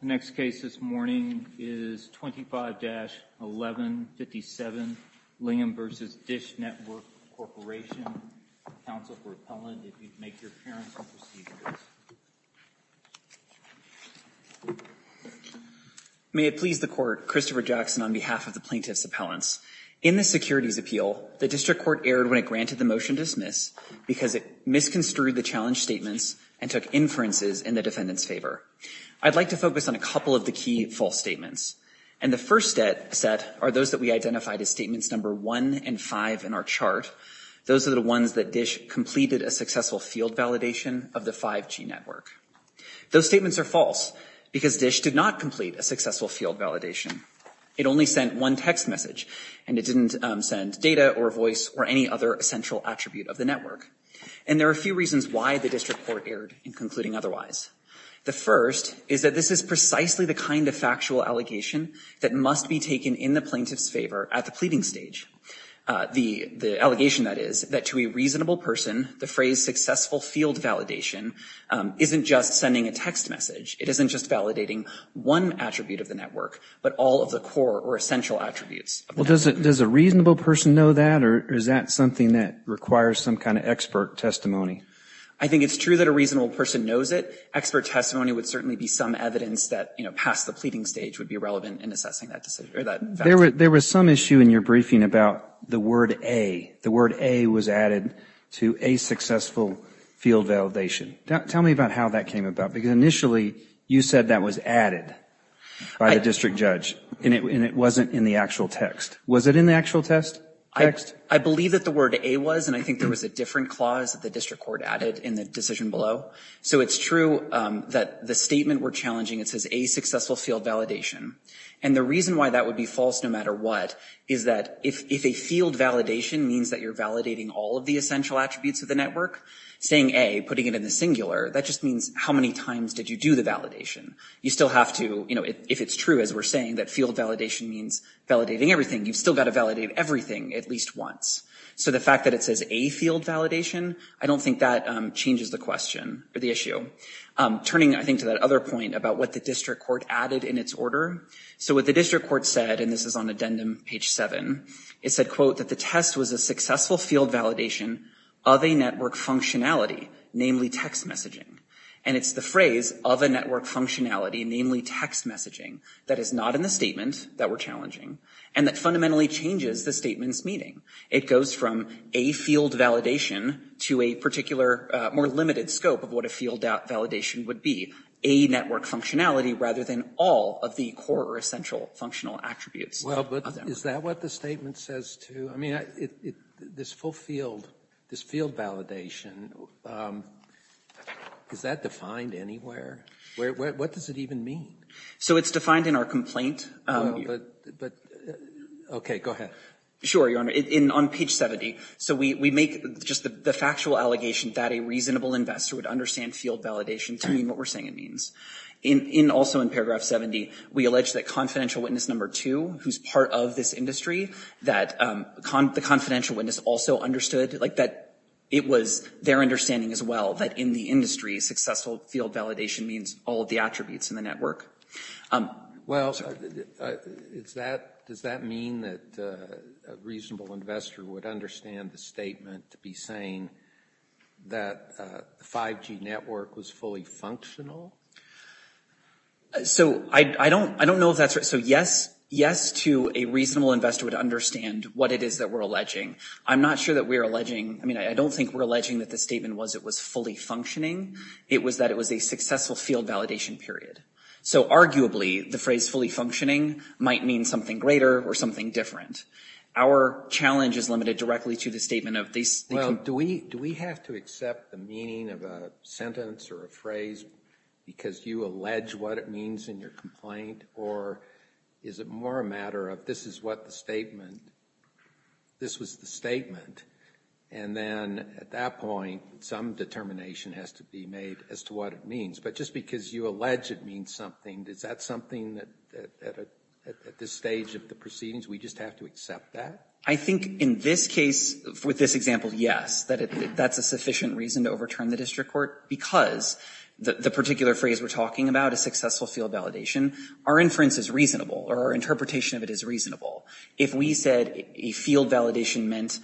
The next case this morning is 25-1157, Lilliam v. Dish Network Corporation. Counsel for appellant, if you'd make your appearance and proceed with this. May it please the court, Christopher Jackson on behalf of the plaintiff's appellants. In the securities appeal, the district court erred when it granted the motion to dismiss because it misconstrued the challenge statements and took inferences in the defendant's favor. I'd like to focus on a couple of the key false statements. And the first set are those that we identified as statements number one and five in our chart. Those are the ones that Dish completed a successful field validation of the 5G network. Those statements are false because Dish did not complete a successful field validation. It only sent one text message and it didn't send data or voice or any other essential attribute of the network. And there are a few reasons why the district court erred in concluding otherwise. The first is that this is precisely the kind of factual allegation that must be taken in the plaintiff's favor at the pleading stage. The allegation that is that to a reasonable person, the phrase successful field validation isn't just sending a text message. It isn't just validating one attribute of the network, but all of the core or essential attributes. Well, does a reasonable person know that or is that something that requires some kind of expert testimony? I think it's true that a reasonable person knows it. Expert testimony would certainly be some evidence that past the pleading stage would be relevant in assessing that decision. There was some issue in your briefing about the word A. The word A was added to a successful field validation. Tell me about how that came about because initially you said that was added by the district judge and it wasn't in the actual text. Was it in the actual text? I believe that the word A was and I think there was a different clause that the district court added in the decision below. So it's true that the statement we're challenging, it says A successful field validation. And the reason why that would be false no matter what is that if a field validation means that you're validating all of the essential attributes of the network, saying A, putting it in the singular, that just means how many times did you do the validation? You still have to, if it's true as we're saying that field validation means validating everything, you've still got to validate everything at least once. So the fact that it says A field validation, I don't think that changes the question or the issue. Turning I think to that other point about what the district court added in its order. So what the district court said, and this is on addendum page seven, it said, quote, that the test was a successful field validation of a network functionality, namely text messaging. And it's the phrase of a network functionality, namely text messaging, that is not in the statement that we're challenging and that fundamentally changes the statement's meaning. It goes from A field validation to a particular, more limited scope of what a field validation would be. A network functionality rather than all of the core or essential functional attributes. Well, but is that what the statement says too? I mean, this full field, this field validation, is that defined anywhere? What does it even mean? So it's defined in our complaint. Well, but, okay, go ahead. Sure, Your Honor, on page 70. So we make just the factual allegation that a reasonable investor would understand field validation to mean what we're saying it means. In also in paragraph 70, we allege that confidential witness number two, who's part of this industry, that the confidential witness also understood like that it was their understanding as well that in the industry, successful field validation means all of the attributes in the network. Well, does that mean that a reasonable investor would understand the statement to be saying that the 5G network was fully functional? So I don't know if that's right. So yes, yes to a reasonable investor would understand what it is that we're alleging. I'm not sure that we're alleging, I mean, I don't think we're alleging that the statement was it was fully functioning. It was that it was a successful field validation period. So arguably, the phrase fully functioning might mean something greater or something different. Our challenge is limited directly to the statement of this. Well, do we have to accept the meaning of a sentence or a phrase because you allege what it means in your complaint or is it more a matter of this is what the statement, this was the statement, and then at that point, some determination has to be made as to what it means. But just because you allege it means something, is that something that at this stage of the proceedings, we just have to accept that? I think in this case, with this example, yes, that that's a sufficient reason to overturn the district court because the particular phrase we're talking about, a successful field validation, our inference is reasonable or our interpretation of it is reasonable. If we said a field validation meant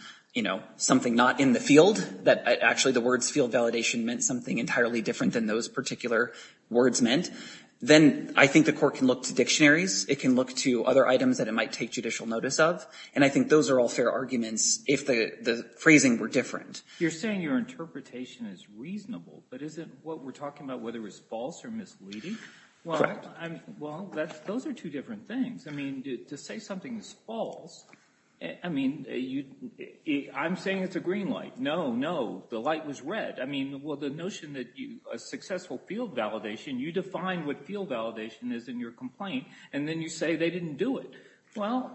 something not in the field, that actually the words field validation meant something entirely different than those particular words meant, then I think the court can look to dictionaries, it can look to other items that it might take judicial notice of, and I think those are all fair arguments if the phrasing were different. You're saying your interpretation is reasonable, but isn't what we're talking about whether it's false or misleading? Correct. Well, those are two different things. I mean, to say something is false, I mean, I'm saying it's a green light. No, no, the light was red. I mean, well, the notion that a successful field validation, you define what field validation is in your complaint, and then you say they didn't do it. Well,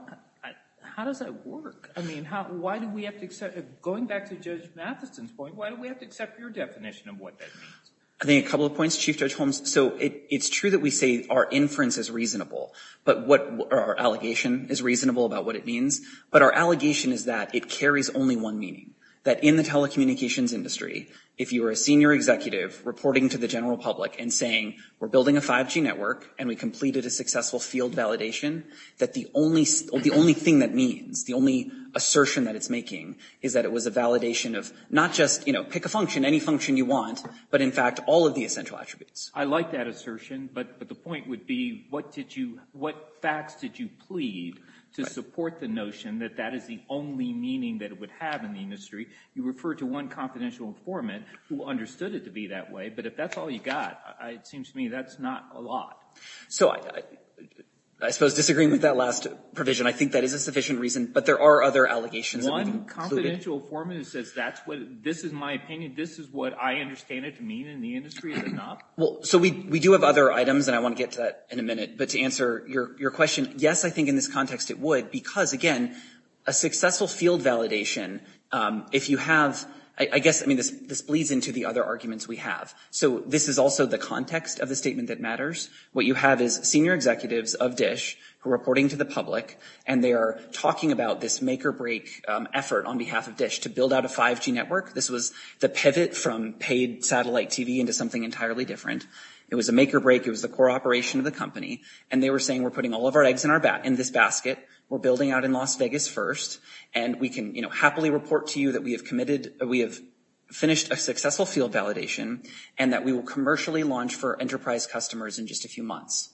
how does that work? I mean, why do we have to accept, going back to Judge Matheson's point, why do we have to accept your definition of what that means? I think a couple of points, Chief Judge Holmes. So it's true that we say our inference is reasonable, but what our allegation is reasonable about what it means, but our allegation is that it carries only one meaning, that in the telecommunications industry, if you were a senior executive reporting to the general public and saying, we're building a 5G network, and we completed a successful field validation, that the only thing that means, the only assertion that it's making is that it was a validation of, not just pick a function, any function you want, but in fact, all of the essential attributes. I like that assertion, but the point would be, what facts did you plead to support the notion that that is the only meaning that it would have in the industry? You refer to one confidential informant who understood it to be that way, but if that's all you got, it seems to me that's not a lot. So I suppose disagreeing with that last provision, I think that is a sufficient reason, but there are other allegations that we've included. One confidential informant says that's what, this is my opinion, this is what I understand it to mean in the industry, is it not? So we do have other items, and I want to get to that in a minute, but to answer your question, yes, I think in this context it would, because again, a successful field validation, if you have, I guess this bleeds into the other arguments we have. So this is also the context of the statement that matters. What you have is senior executives of DISH who are reporting to the public, and they are talking about this make or break effort on behalf of DISH to build out a 5G network. This was the pivot from paid satellite TV into something entirely different. It was a make or break, it was the core operation of the company, and they were saying we're putting all of our eggs in this basket, we're building out in Las Vegas first, and we can happily report to you that we have committed, we have finished a successful field validation, and that we will commercially launch for enterprise customers in just a few months.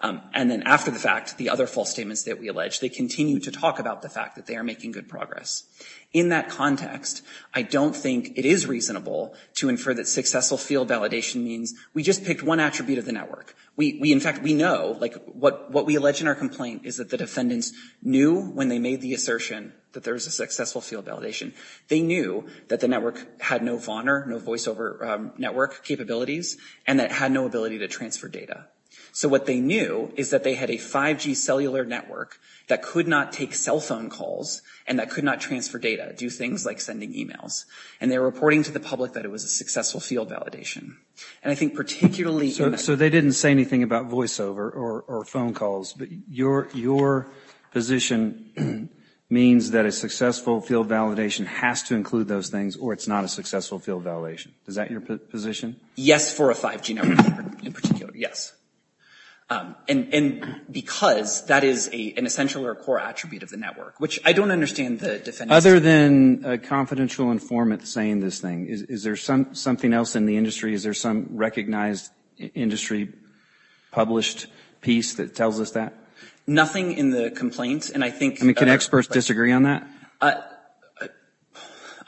And then after the fact, the other false statements that we allege, they continue to talk about the fact that they are making good progress. In that context, I don't think it is reasonable to infer that successful field validation means we just picked one attribute of the network. We, in fact, we know, like what we allege in our complaint is that the defendants knew when they made the assertion that there was a successful field validation, they knew that the network had no VONR, no voiceover network capabilities, and that it had no ability to transfer data. So what they knew is that they had a 5G cellular network that could not take cell phone calls, and that could not transfer data, do things like sending emails. And they're reporting to the public that it was a successful field validation. And I think particularly in a- So they didn't say anything about voiceover or phone calls, but your position means that a successful field validation has to include those things, or it's not a successful field validation. Is that your position? Yes, for a 5G network, in particular, yes. And because that is an essential or a core attribute of the network, which I don't understand the defendants- Other than a confidential informant saying this thing, is there something else in the industry? Is there some recognized industry published piece that tells us that? Nothing in the complaint, and I think- I mean, can experts disagree on that?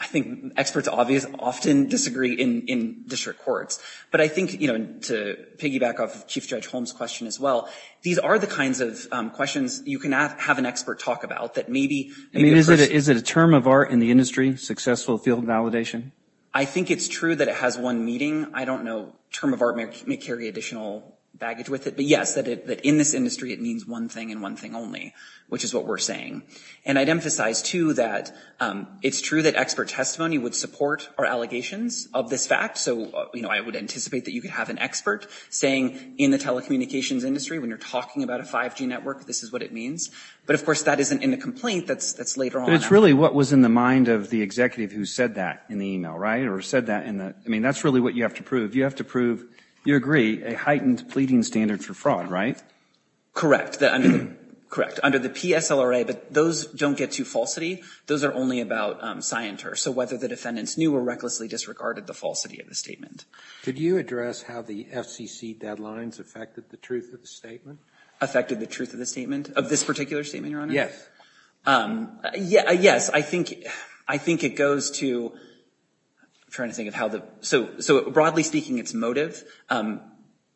I think experts often disagree in district courts. But I think, to piggyback off Chief Judge Holmes' question as well, these are the kinds of questions you can have an expert talk about that maybe- I mean, is it a term of art in the industry, successful field validation? I think it's true that it has one meaning. Term of art may carry additional baggage with it, but yes, that in this industry, it means one thing and one thing only, which is what we're saying. And I'd emphasize, too, that it's true that expert testimony would support our allegations of this fact. So I would anticipate that you could have an expert saying, in the telecommunications industry, when you're talking about a 5G network, this is what it means. But of course, that isn't in the complaint, that's later on. But it's really what was in the mind of the executive who said that in the email, right? Or said that in the- I mean, that's really what you have to prove. You have to prove, you agree, a heightened pleading standard for fraud, right? Correct, correct. Under the PSLRA, but those don't get to falsity. Those are only about scienter. So whether the defendants knew or recklessly disregarded the falsity of the statement. Did you address how the FCC deadlines affected the truth of the statement? Affected the truth of the statement? Of this particular statement, Your Honor? Yes. Yes, I think it goes to, I'm trying to think of how the, so broadly speaking, it's motive,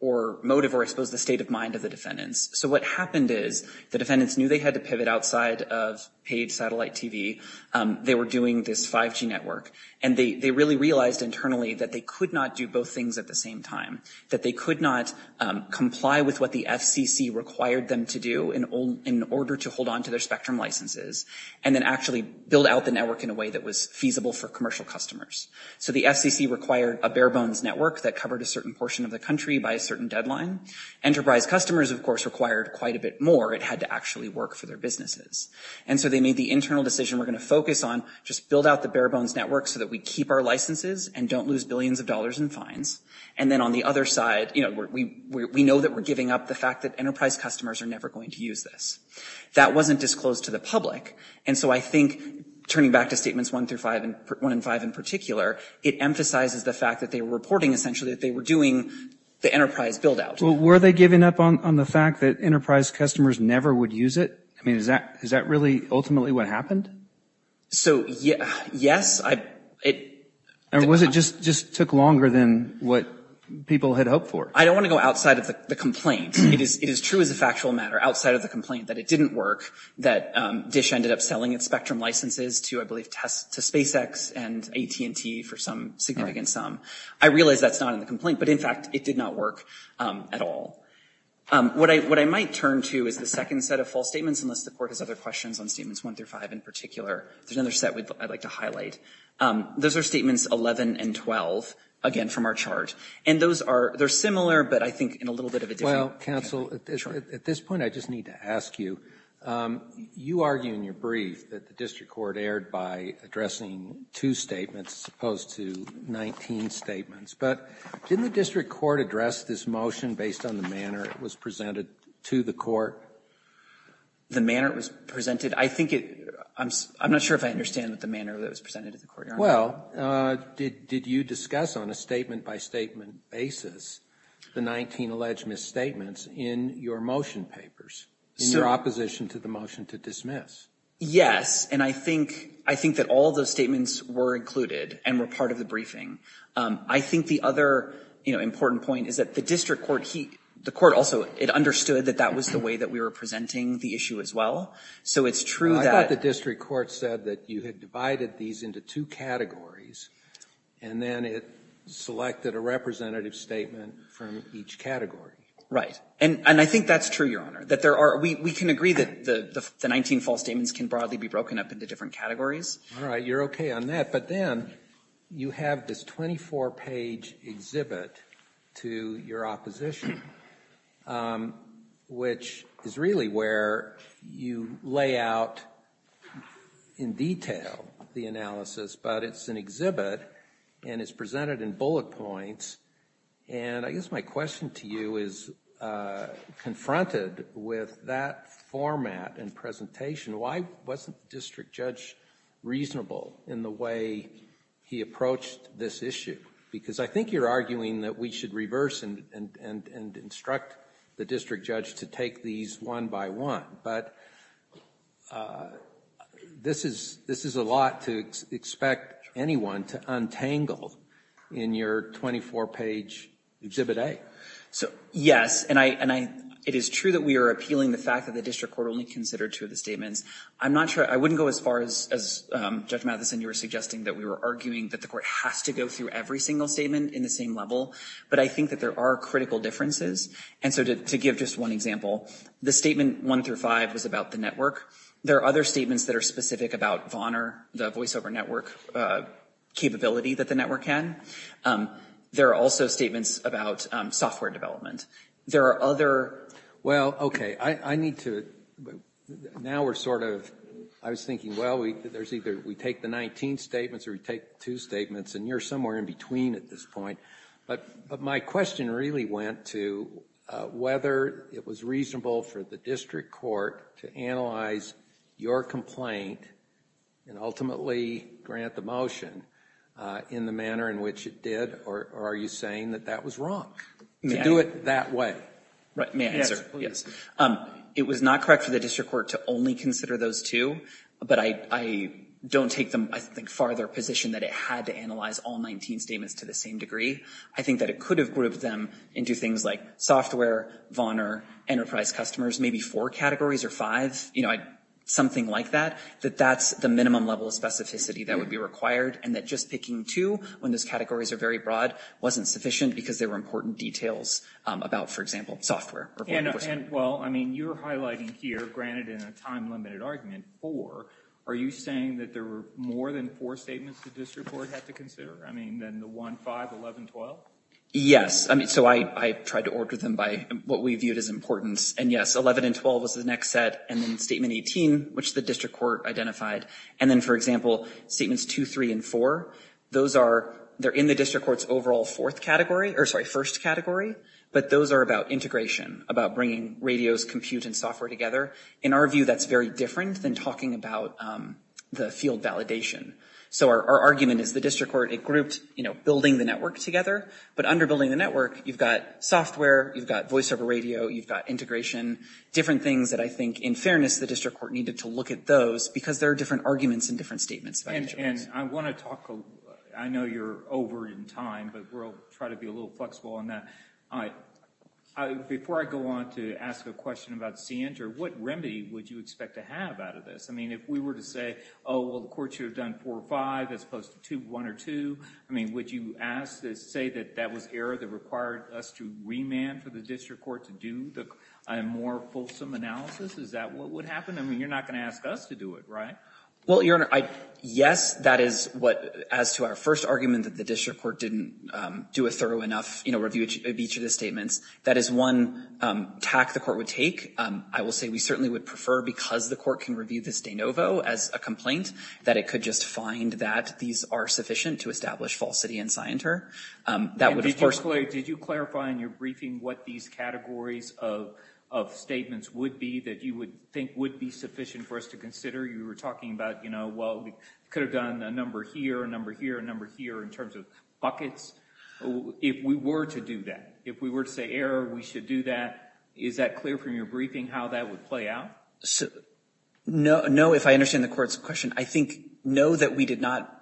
or motive or I suppose the state of mind of the defendants. So what happened is, the defendants knew they had to pivot outside of paid satellite TV. They were doing this 5G network. And they really realized internally that they could not do both things at the same time. That they could not comply with what the FCC required them to do in order to hold on to their spectrum licenses. And then actually build out the network in a way that was feasible for commercial customers. So the FCC required a bare bones network that covered a certain portion of the country by a certain deadline. Enterprise customers, of course, required quite a bit more. It had to actually work for their businesses. And so they made the internal decision, we're gonna focus on, just build out the bare bones network so that we keep our licenses and don't lose billions of dollars in fines. And then on the other side, we know that we're giving up the fact that enterprise customers are never going to use this. That wasn't disclosed to the public. And so I think, turning back to statements one through five, one and five in particular, it emphasizes the fact that they were reporting essentially that they were doing the enterprise build out. Well, were they giving up on the fact that enterprise customers never would use it? I mean, is that really ultimately what happened? So, yes, I, it. Or was it just took longer than what people had hoped for? I don't wanna go outside of the complaint. It is true as a factual matter, outside of the complaint that it didn't work, that DISH ended up selling its spectrum licenses to, I believe, to SpaceX and AT&T for some significant sum. I realize that's not in the complaint, but in fact, it did not work at all. What I might turn to is the second set of false statements, unless the court has other questions on statements one through five in particular. There's another set I'd like to highlight. Those are statements 11 and 12, again, from our chart. And those are, they're similar, but I think in a little bit of a different. Well, counsel, at this point, I just need to ask you, you argue in your brief that the district court erred by addressing two statements as opposed to 19 statements. But didn't the district court address this motion based on the manner it was presented to the court? The manner it was presented? I think it, I'm not sure if I understand that the manner that it was presented to the court. Well, did you discuss on a statement-by-statement basis the 19 alleged misstatements in your motion papers, in your opposition to the motion to dismiss? Yes, and I think that all those statements were included and were part of the briefing. I think the other important point is that the district court, the court also, it understood that that was the way that we were presenting the issue as well. So it's true that- I thought the district court said that you had divided these into two categories, and then it selected a representative statement from each category. Right, and I think that's true, Your Honor, that there are, we can agree that the 19 false statements can broadly be broken up into different categories. All right, you're okay on that, but then you have this 24-page exhibit to your opposition, which is really where you lay out in detail the analysis, but it's an exhibit, and it's presented in bullet points, and I guess my question to you is, confronted with that format and presentation, why wasn't the district judge reasonable in the way he approached this issue? Because I think you're arguing that we should reverse and instruct the district judge to take these one by one, but this is a lot to expect anyone to untangle in your 24-page exhibit A. So, yes, and it is true that we are appealing the fact that the district court only considered two of the statements. I'm not sure, I wouldn't go as far as Judge Matheson, you were suggesting that we were arguing that the court has to go through every single statement in the same level, but I think that there are critical differences, and so to give just one example, the statement one through five was about the network. There are other statements that are specific about VONR, the voiceover network capability that the network can. There are also statements about software development. There are other. Well, okay, I need to, now we're sort of, I was thinking, well, there's either we take the 19 statements or we take two statements, and you're somewhere in between at this point, but my question really went to whether it was reasonable for the district court to analyze your complaint and ultimately grant the motion in the manner in which it did, or are you saying that that was wrong to do it that way? Right, may I answer? Yes, please. It was not correct for the district court to only consider those two, but I don't take them, I think, farther position that it had to analyze all 19 statements to the same degree. I think that it could have grouped them into things like software, VONR, enterprise customers, maybe four categories or five, something like that, that that's the minimum level of specificity that would be required, and that just picking two when those categories are very broad wasn't sufficient because there were important details about, for example, software. Well, I mean, you're highlighting here, granted in a time-limited argument, four. Are you saying that there were more than four statements the district court had to consider? I mean, than the one, five, 11, 12? Yes, I mean, so I tried to order them by what we viewed as importance, and yes, 11 and 12 was the next set, and then statement 18, which the district court identified, and then, for example, statements two, three, and four, those are, they're in the district court's overall fourth category, or sorry, first category, but those are about integration, about bringing radios, compute, and software together. In our view, that's very different than talking about the field validation. So our argument is the district court, it grouped building the network together, but under building the network, you've got software, you've got voiceover radio, you've got integration, different things that I think, in fairness, the district court needed to look at those because there are different arguments and different statements about each of those. And I wanna talk, I know you're over in time, but we'll try to be a little flexible on that. All right, before I go on to ask a question about CNJER, what remedy would you expect to have out of this? I mean, if we were to say, oh, well, the court should have done four, five, as opposed to two, one, or two, I mean, would you say that that was error that required us to remand for the district court to do a more fulsome analysis? Is that what would happen? I mean, you're not gonna ask us to do it, right? Well, Your Honor, yes, that is what, as to our first argument that the district court didn't do a thorough enough review of each of the statements, that is one tack the court would take. I will say we certainly would prefer, because the court can review this de novo as a complaint, that it could just find that these are sufficient to establish falsity in CNJER. That would, of course, And did you clarify in your briefing what these categories of statements would be that you would think would be sufficient for us to consider? You were talking about, you know, well, we could have done a number here, a number here, a number here in terms of buckets. If we were to do that, if we were to say error, we should do that, is that clear from your briefing how that would play out? No, no, if I understand the court's question, I think, no, that we did not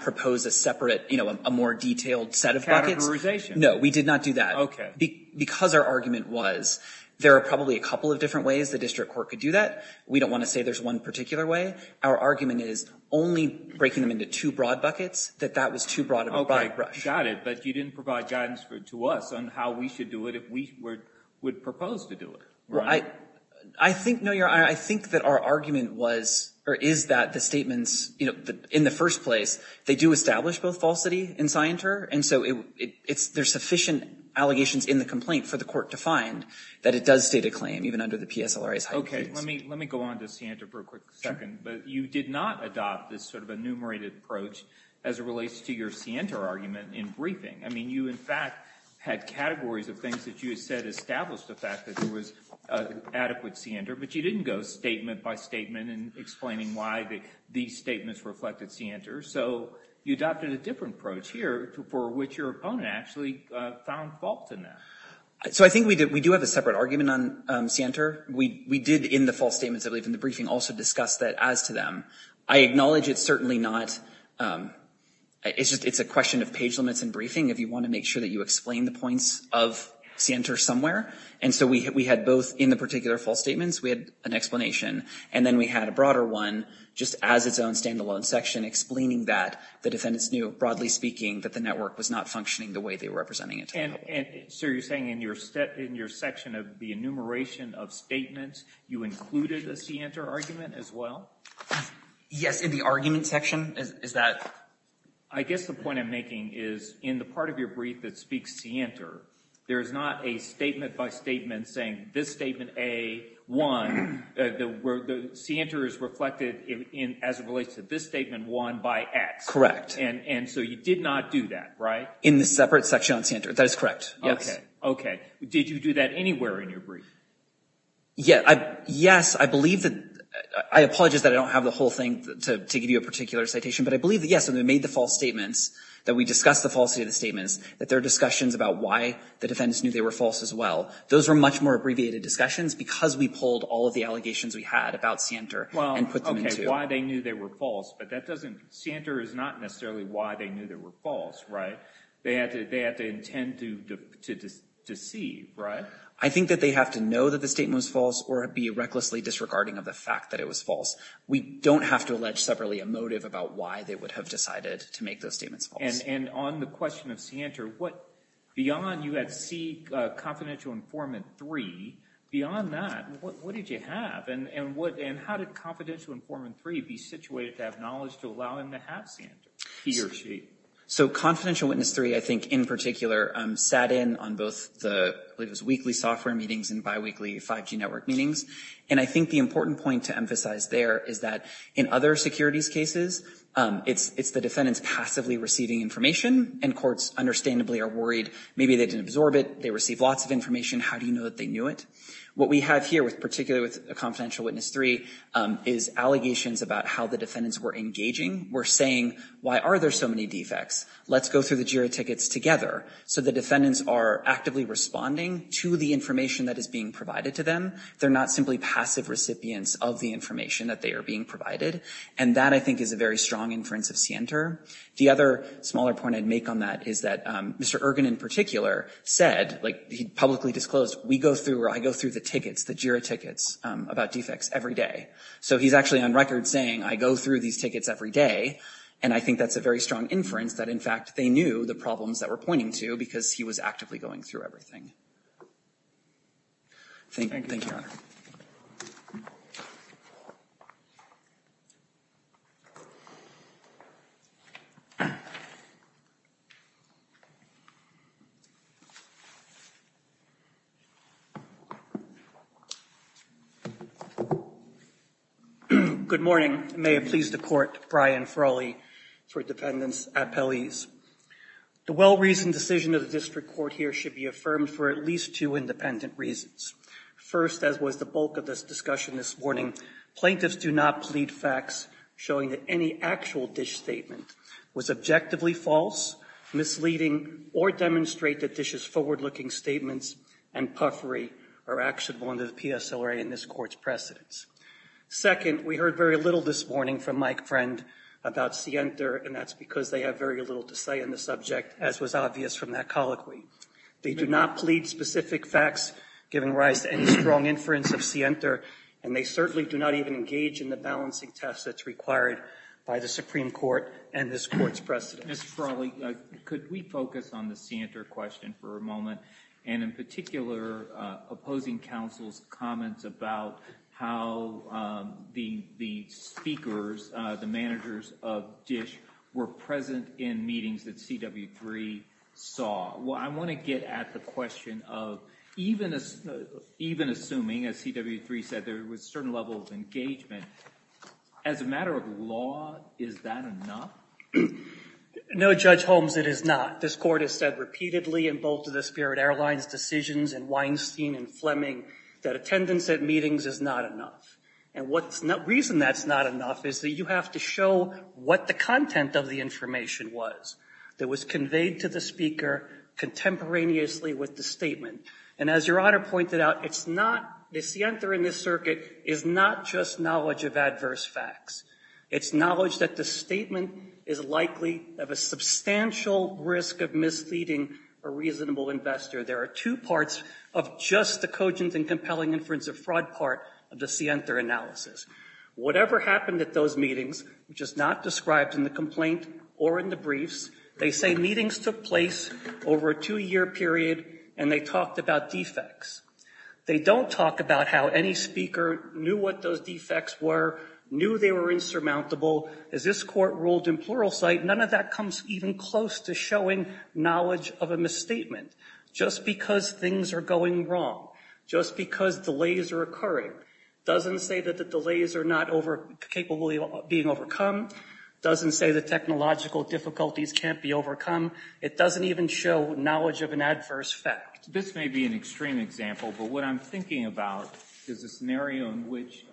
propose a separate, you know, a more detailed set of buckets. Categorization. No, we did not do that. Okay. Because our argument was, there are probably a couple of different ways the district court could do that. We don't want to say there's one particular way. Our argument is only breaking them into two broad buckets, that that was too broad of a brush. Got it, but you didn't provide guidance to us on how we should do it if we would propose to do it, right? I think, no, Your Honor, I think that our argument was, or is that the statements, you know, in the first place, they do establish both falsity and scienter, and so there's sufficient allegations in the complaint for the court to find that it does state a claim, even under the PSLRA's height claims. Okay, let me go on to scienter for a quick second, but you did not adopt this sort of enumerated approach as it relates to your scienter argument in briefing. I mean, you, in fact, had categories of things that you had said established the fact that there was adequate scienter, but you didn't go statement by statement in explaining why these statements reflected scienter, so you adopted a different approach here for which your opponent actually found fault in that. So I think we do have a separate argument on scienter. We did, in the false statements, I believe, in the briefing, also discuss that as to them. I acknowledge it's certainly not, it's just, it's a question of page limits in briefing if you want to make sure that you explain the points of scienter somewhere, and so we had both, in the particular false statements, we had an explanation, and then we had a broader one just as its own standalone section, explaining that the defendants knew, broadly speaking, that the network was not functioning the way they were representing it. And so you're saying in your section of the enumeration of statements, you included a scienter argument as well? Yes, in the argument section, is that? I guess the point I'm making is, in the part of your brief that speaks scienter, there is not a statement by statement saying, this statement A, one, the scienter is reflected as it relates to this statement one by X. Correct. And so you did not do that, right? In the separate section on scienter, that is correct, yes. Okay, okay, did you do that anywhere in your brief? Yeah, yes, I believe that, I apologize that I don't have the whole thing to give you a particular citation, but I believe that, yes, when we made the false statements, that we discussed the falsity of the statements, that there are discussions about why the defendants knew they were false as well. Those were much more abbreviated discussions because we pulled all of the allegations we had about scienter and put them into. Well, okay, why they knew they were false, but that doesn't, scienter is not necessarily why they knew they were false, right? They had to intend to deceive, right? I think that they have to know that the statement was false or be recklessly disregarding of the fact that it was false. We don't have to allege separately a motive about why they would have decided to make those statements false. And on the question of scienter, what, beyond you had C, confidential informant three, beyond that, what did you have? And how did confidential informant three be situated to have knowledge to allow him to have scienter, he or she? So confidential witness three, I think in particular, sat in on both the, I believe it was weekly software meetings and biweekly 5G network meetings. And I think the important point to emphasize there is that in other securities cases, it's the defendants passively receiving information and courts understandably are worried maybe they didn't absorb it. They receive lots of information. How do you know that they knew it? What we have here with particular with a confidential witness three is allegations about how the defendants were engaging. We're saying, why are there so many defects? Let's go through the jury tickets together. So the defendants are actively responding to the information that is being provided to them. They're not simply passive recipients of the information that they are being provided. And that I think is a very strong inference of scienter. The other smaller point I'd make on that is that Mr. Ergin in particular said, like he publicly disclosed, we go through, or I go through the tickets, the jury tickets about defects every day. So he's actually on record saying, I go through these tickets every day. And I think that's a very strong inference that in fact, they knew the problems that we're pointing to because he was actively going through everything. Thank you. Good morning. May it please the court, Brian Frawley for defendants appellees. The well-reasoned decision of the district court here should be affirmed for at least two independent reasons. First, as was the bulk of this discussion this morning, plaintiffs do not plead facts showing that any actual dish statement was objectively false, misleading, or demonstrate that dishes forward-looking statements and puffery are actionable under the PSLRA in this court's precedence. Second, we heard very little this morning from Mike Friend about scienter. And that's because they have very little to say on the subject, as was obvious from that colloquy. They do not plead specific facts giving rise to any strong inference of scienter. And they certainly do not even engage in the balancing test that's required by the Supreme Court and this court's precedence. Mr. Frawley, could we focus on the scienter question for a moment, and in particular, opposing counsel's comments about how the speakers, the managers of dish, were present in meetings that CW3 saw. Well, I wanna get at the question of, even assuming, as CW3 said, there was certain levels of engagement. As a matter of law, is that enough? No, Judge Holmes, it is not. This court has said repeatedly in both of the Spirit Airlines' decisions in Weinstein and Fleming that attendance at meetings is not enough. And the reason that's not enough is that you have to show what the content of the information was that was conveyed to the speaker contemporaneously with the statement. And as Your Honor pointed out, the scienter in this circuit is not just knowledge of adverse facts. It's knowledge that the statement is likely of a substantial risk of misleading a reasonable investor. There are two parts of just the cogent and compelling inference of fraud part of the scienter analysis. Whatever happened at those meetings, which is not described in the complaint or in the briefs, they say meetings took place over a two-year period and they talked about defects. They don't talk about how any speaker knew what those defects were, knew they were insurmountable. As this court ruled in pluralsight, none of that comes even close to showing knowledge of a misstatement. Just because things are going wrong, just because delays are occurring, doesn't say that the delays are not capable of being overcome, doesn't say the technological difficulties can't be overcome. It doesn't even show knowledge of an adverse fact. This may be an extreme example, but what I'm thinking about is a scenario in which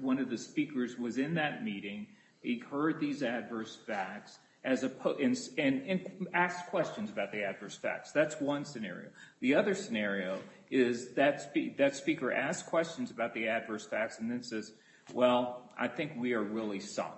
one of the speakers was in that meeting, he heard these adverse facts, and asked questions about the adverse facts. That's one scenario. The other scenario is that speaker asked questions about the adverse facts and then says, well, I think we are really sunk.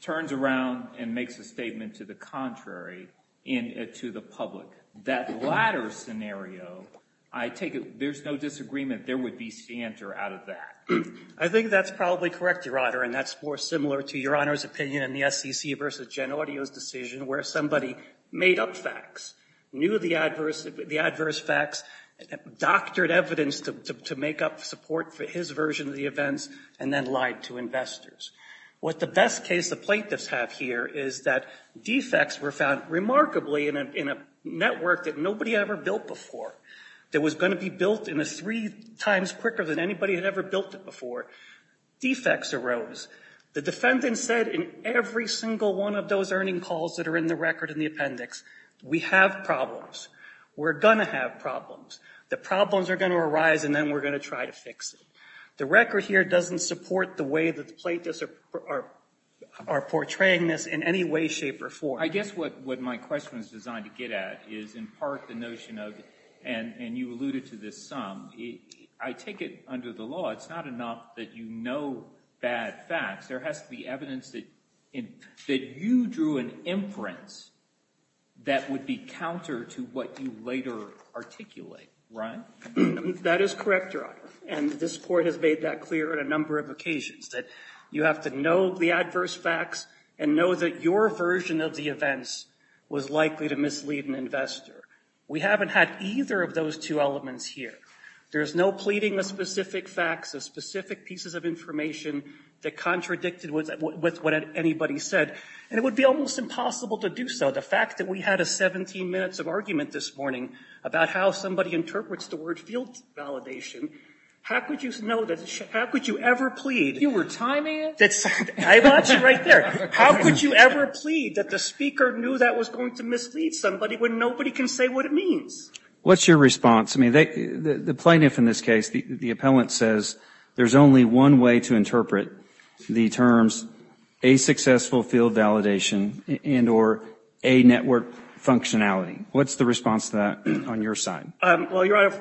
Turns around and makes a statement to the contrary and to the public. That latter scenario, I take it, there's no disagreement, there would be scienter out of that. I think that's probably correct, Your Honor, and that's more similar to Your Honor's opinion in the SEC versus Jen Audio's decision where somebody made up facts, knew the adverse facts, doctored evidence to make up support for his version of the events, and then lied to investors. What the best case the plaintiffs have here is that defects were found remarkably in a network that nobody ever built before that was gonna be built in a three times quicker than anybody had ever built it before. Defects arose. The defendant said in every single one of those earning calls that are in the record in the appendix, we have problems. We're gonna have problems. The problems are gonna arise and then we're gonna try to fix it. The record here doesn't support the way the plaintiffs are portraying this in any way, shape, or form. I guess what my question was designed to get at is in part the notion of, and you alluded to this some, I take it under the law, it's not enough that you know bad facts. There has to be evidence that you drew an inference that would be counter to what you later articulate, right? That is correct, Your Honor, and this Court has made that clear on a number of occasions, that you have to know the adverse facts and know that your version of the events was likely to mislead an investor. We haven't had either of those two elements here. There's no pleading of specific facts, of specific pieces of information that contradicted with what anybody said, and it would be almost impossible to do so. The fact that we had a 17 minutes of argument this morning about how somebody interprets the word field validation, how could you ever plead? You were timing it? I want you right there. How could you ever plead that the speaker knew that was going to mislead somebody when nobody can say what it means? What's your response? I mean, the plaintiff in this case, the appellant says, there's only one way to interpret the terms a successful field validation and or a network functionality. What's the response to that on your side? Well, Your Honor,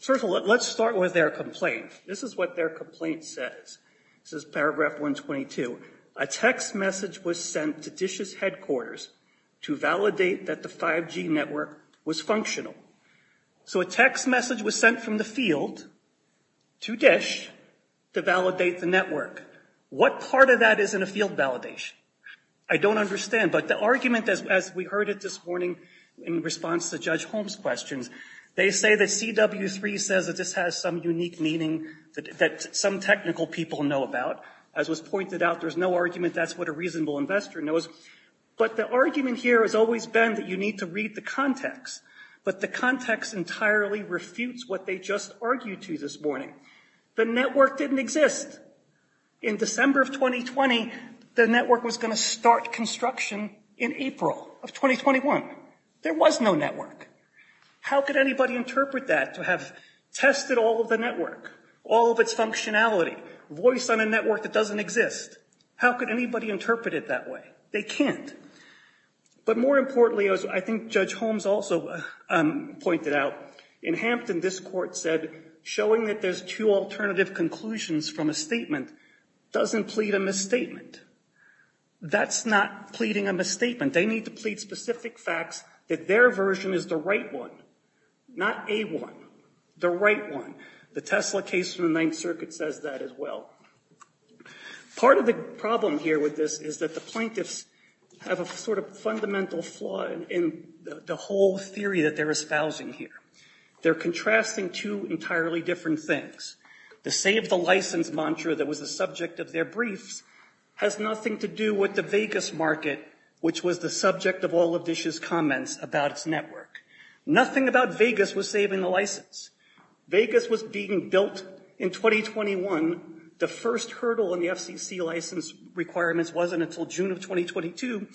first of all, let's start with their complaint. This is what their complaint says. This is paragraph 122. A text message was sent to DISH's headquarters to validate that the 5G network was functional. So a text message was sent from the field to DISH to validate the network. What part of that is in a field validation? I don't understand, but the argument as we heard it this morning in response to Judge Holmes' questions, they say that CW3 says that this has some unique meaning that some technical people know about. As was pointed out, there's no argument that's what a reasonable investor knows. But the argument here has always been that you need to read the context, but the context entirely refutes what they just argued to this morning. The network didn't exist. In December of 2020, the network was gonna start construction in April of 2021. There was no network. How could anybody interpret that to have tested all of the network, all of its functionality, voice on a network that doesn't exist? How could anybody interpret it that way? They can't. But more importantly, as I think Judge Holmes also pointed out, in Hampton, this court said, showing that there's two alternative conclusions from a statement doesn't plead a misstatement. That's not pleading a misstatement. They need to plead specific facts that their version is the right one, not a one, the right one. The Tesla case from the Ninth Circuit says that as well. Part of the problem here with this is that the plaintiffs have a sort of fundamental flaw in the whole theory that they're espousing here. They're contrasting two entirely different things. The save the license mantra that was the subject of their briefs has nothing to do with the Vegas market, which was the subject of all of Dish's comments about its network. Nothing about Vegas was saving the license. Vegas was being built in 2021. The first hurdle in the FCC license requirements wasn't until June of 2022.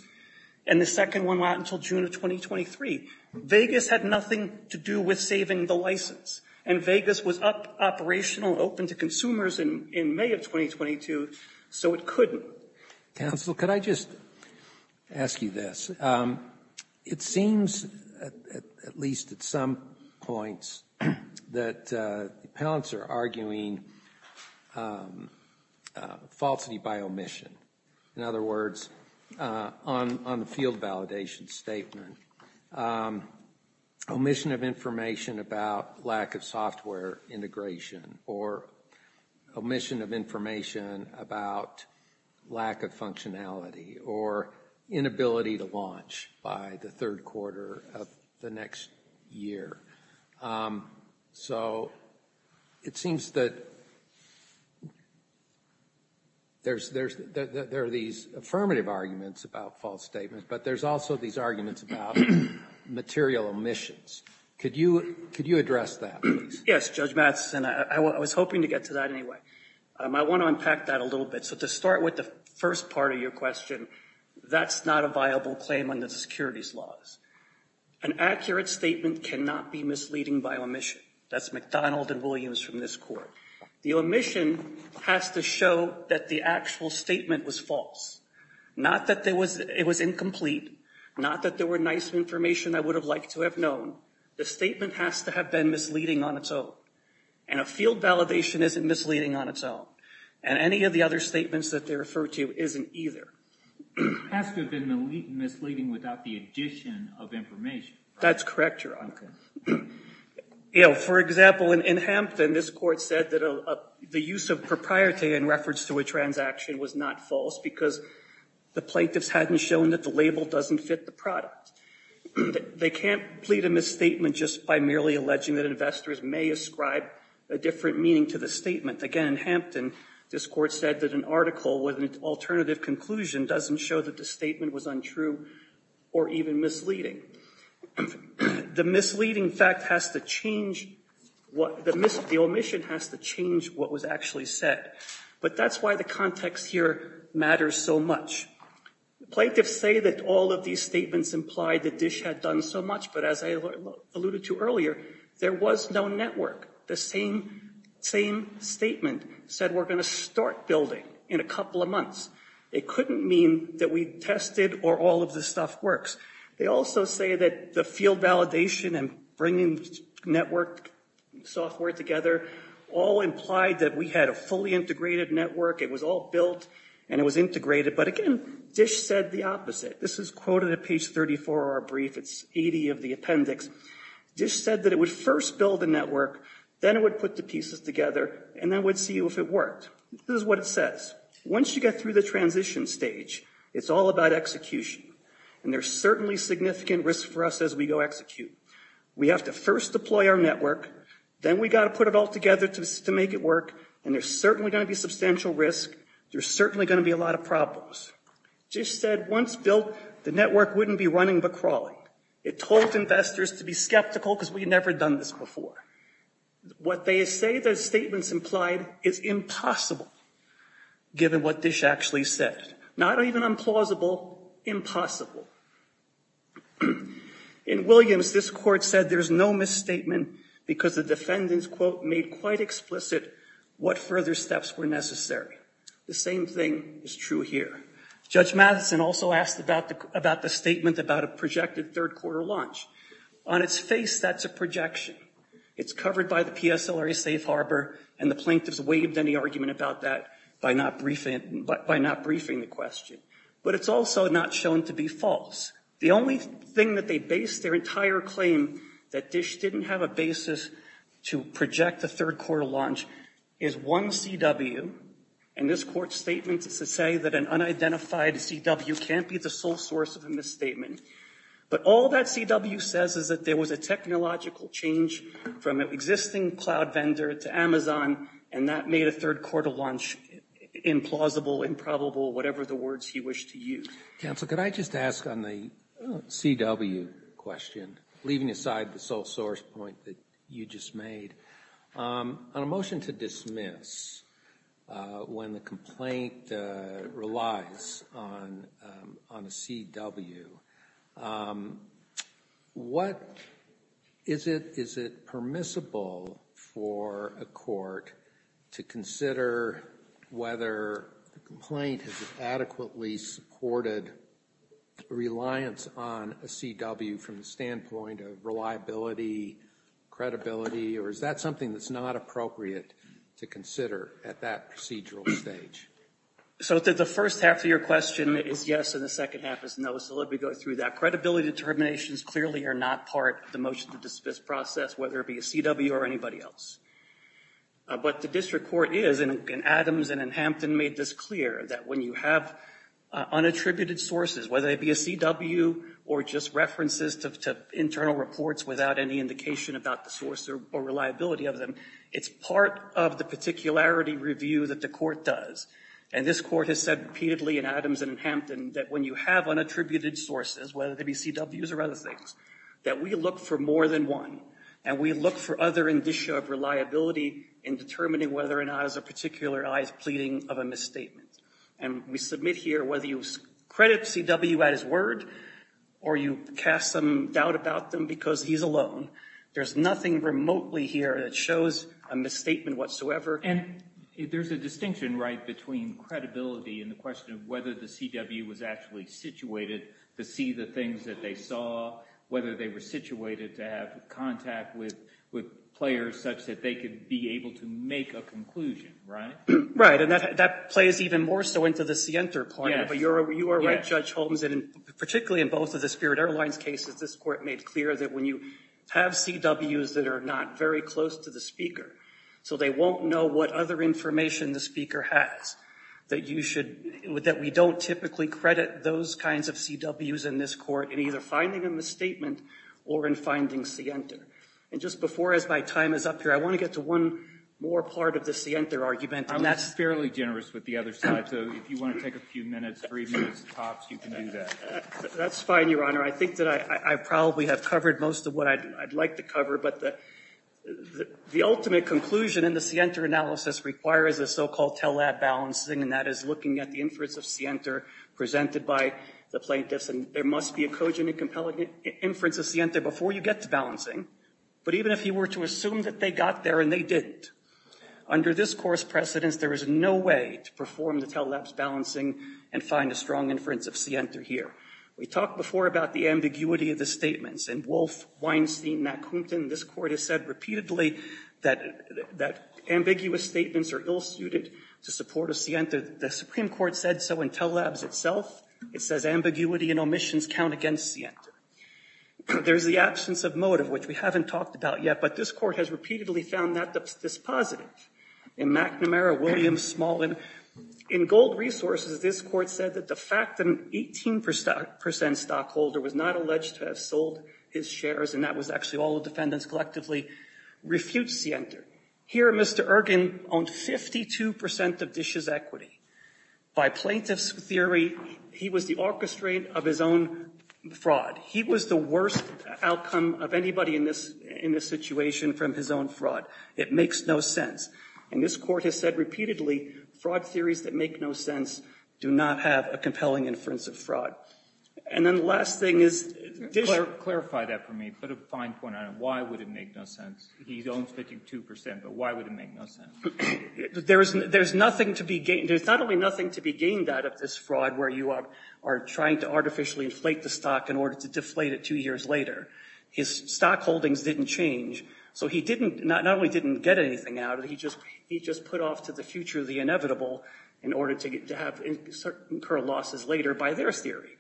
And the second one went out until June of 2023. Vegas had nothing to do with saving the license. And Vegas was operational, open to consumers in May of 2022, so it couldn't. Counsel, could I just ask you this? It seems, at least at some points, that the appellants are arguing falsity by omission. In other words, on the field validation statement, omission of information about lack of software integration, or omission of information about lack of functionality, or inability to launch by the third quarter of the next year. So it seems that there are these affirmative arguments about false statements, but there's also these arguments about material omissions. Could you address that, please? Yes, Judge Mattson, I was hoping to get to that anyway. I want to unpack that a little bit. So to start with the first part of your question, that's not a viable claim under the securities laws. An accurate statement cannot be misleading by omission. That's McDonald and Williams from this court. The omission has to show that the actual statement was false. Not that it was incomplete, not that there were nice information I would have liked to have known. The statement has to have been misleading on its own. And a field validation isn't misleading on its own. And any of the other statements that they refer to isn't either. It has to have been misleading without the addition of information. That's correct, Your Honor. For example, in Hampton, this court said that the use of propriety in reference to a transaction was not false because the plaintiffs hadn't shown that the label doesn't fit the product. They can't plead a misstatement just by merely alleging that investors may ascribe a different meaning to the statement. Again, in Hampton, this court said that an article with an alternative conclusion doesn't show that the statement was untrue or even misleading. The misleading fact has to change, the omission has to change what was actually said. But that's why the context here matters so much. Plaintiffs say that all of these statements implied that DISH had done so much, but as I alluded to earlier, there was no network. The same statement said we're gonna start building in a couple of months. It couldn't mean that we tested or all of this stuff works. They also say that the field validation and bringing network software together all implied that we had a fully integrated network, it was all built and it was integrated. But again, DISH said the opposite. This is quoted at page 34 of our brief, it's 80 of the appendix. DISH said that it would first build a network, then it would put the pieces together, and then we'd see if it worked. This is what it says. Once you get through the transition stage, it's all about execution. And there's certainly significant risk for us as we go execute. We have to first deploy our network, then we gotta put it all together to make it work, and there's certainly gonna be substantial risk, there's certainly gonna be a lot of problems. DISH said once built, the network wouldn't be running but crawling. It told investors to be skeptical because we had never done this before. What they say the statements implied is impossible given what DISH actually said. Not even implausible, impossible. In Williams, this court said there's no misstatement because the defendants, quote, made quite explicit what further steps were necessary. The same thing is true here. Judge Matheson also asked about the statement about a projected third quarter launch. On its face, that's a projection. It's covered by the PSLRA safe harbor, and the plaintiffs waived any argument about that by not briefing the question. But it's also not shown to be false. The only thing that they based their entire claim, that DISH didn't have a basis to project a third quarter launch, is one CW, and this court's statement is to say that an unidentified CW can't be the sole source of a misstatement. But all that CW says is that there was a technological change from an existing cloud vendor to Amazon, and that made a third quarter launch implausible, improbable, whatever the words he wished to use. Counsel, could I just ask on the CW question, leaving aside the sole source point that you just made, on a motion to dismiss when the complaint relies on a CW, what is it permissible for a court to consider whether the complaint has adequately supported reliance on a CW from the standpoint of reliability, credibility, or is that something that's not appropriate to consider at that procedural stage? So the first half of your question is yes, and the second half is no, so let me go through that. Credibility determinations clearly are not part of the motion to dismiss process, whether it be a CW or anybody else. But the district court is, and Adams and Hampton made this clear, that when you have unattributed sources, whether it be a CW or just references to internal reports without any indication about the source or reliability of them, it's part of the particularity review that the court does. And this court has said repeatedly in Adams and Hampton that when you have unattributed sources, whether they be CWs or other things, that we look for more than one, and we look for other indicia of reliability in determining whether or not as a particular is pleading of a misstatement. And we submit here whether you credit CW at his word or you cast some doubt about them because he's alone. There's nothing remotely here that shows a misstatement whatsoever. And there's a distinction, right, between credibility and the question of whether the CW was actually situated to see the things that they saw, whether they were situated to have contact with players such that they could be able to make a conclusion, right? Right, and that plays even more so into the scienter point. But you are right, Judge Holmes, and particularly in both of the Spirit Airlines cases, this court made clear that when you have CWs that are not very close to the speaker, so they won't know what other information the speaker has, that you should, that we don't typically credit those kinds of CWs in this court in either finding a misstatement or in finding scienter. And just before, as my time is up here, I want to get to one more part of the scienter argument. And that's fairly generous with the other side. So if you want to take a few minutes, three minutes tops, you can do that. That's fine, Your Honor. I think that I probably have covered most of what I'd like to cover, but the ultimate conclusion in the scienter analysis requires a so-called tell that balancing, and that is looking at the inference of scienter presented by the plaintiffs. And there must be a cogent and compelling inference of scienter before you get to balancing. But even if you were to assume that they got there and they didn't, under this course precedence, there is no way to perform the tell that balancing and find a strong inference of scienter here. We talked before about the ambiguity of the statements and Wolf, Weinstein, Nakumpton, this court has said repeatedly that ambiguous statements are ill-suited to support a scienter. The Supreme Court said so in tell labs itself. It says ambiguity and omissions count against scienter. There's the absence of motive, which we haven't talked about yet, but this court has repeatedly found that dispositive. In McNamara, Williams, Small, and in Gold Resources, this court said that the fact that an 18% stockholder was not alleged to have sold his shares, and that was actually all the defendants collectively, refutes scienter. Here, Mr. Ergin owned 52% of Dish's equity. By plaintiff's theory, he was the orchestrate of his own fraud. He was the worst outcome of anybody in this situation from his own fraud. It makes no sense. And this court has said repeatedly, fraud theories that make no sense do not have a compelling inference of fraud. And then the last thing is Dish. Clarify that for me. Put a fine point on it. Why would it make no sense? He owns 52%, but why would it make no sense? There's nothing to be gained. There's not only nothing to be gained out of this fraud where you are trying to artificially inflate the stock in order to deflate it two years later. His stock holdings didn't change. So he not only didn't get anything out of it, he just put off to the future of the inevitable in order to incur losses later by their theory.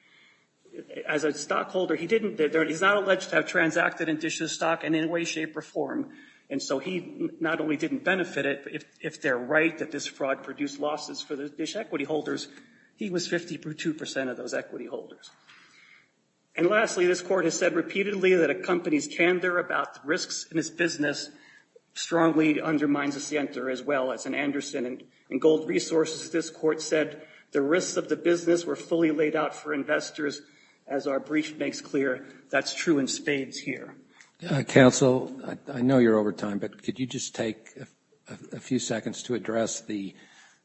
As a stockholder, he's not alleged to have transacted in Dish's stock in any way, shape, or form, and so he not only didn't benefit it, but if they're right that this fraud produced losses for the Dish equity holders, he was 52% of those equity holders. And lastly, this court has said repeatedly that a company's candor about risks in its business strongly undermines a center as well. As in Anderson and Gold Resources, this court said the risks of the business were fully laid out for investors. As our brief makes clear, that's true in spades here. Counsel, I know you're over time, but could you just take a few seconds to address the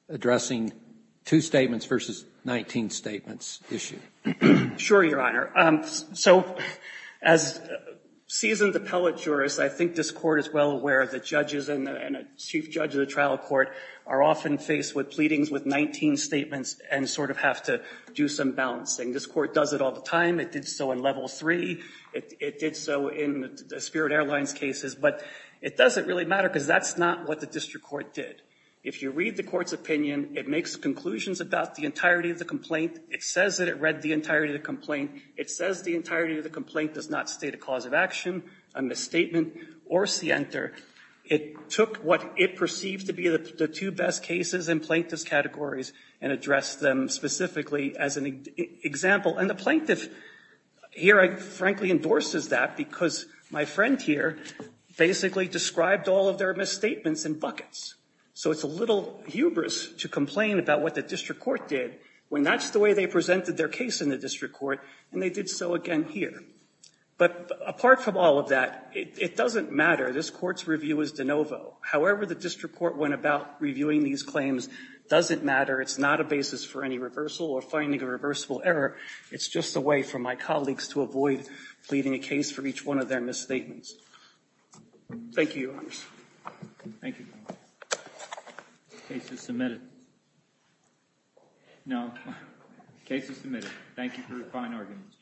addressing two statements versus 19 statements issue? Sure, Your Honor. So as seasoned appellate jurist, I think this court is well aware of the judges and a chief judge of the trial court are often faced with pleadings with 19 statements and sort of have to do some balancing. This court does it all the time. It did so in level three. It did so in the Spirit Airlines cases, but it doesn't really matter because that's not what the district court did. If you read the court's opinion, it makes conclusions about the entirety of the complaint. It says that it read the entirety of the complaint. It says the entirety of the complaint does not state a cause of action, a misstatement, or scienter. It took what it perceived to be the two best cases in plaintiff's categories and addressed them specifically as an example. And the plaintiff here frankly endorses that because my friend here basically described all of their misstatements in buckets. So it's a little hubris to complain about what the district court did when that's the way they presented their case in the district court, and they did so again here. But apart from all of that, it doesn't matter. This court's review is de novo. However the district court went about reviewing these claims doesn't matter. It's not a basis for any reversal or finding a reversible error. It's just a way for my colleagues to avoid pleading a case for each one of their misstatements. Thank you, Your Honors. Thank you. The case is submitted. No. Case is submitted. Thank you for your kind arguments.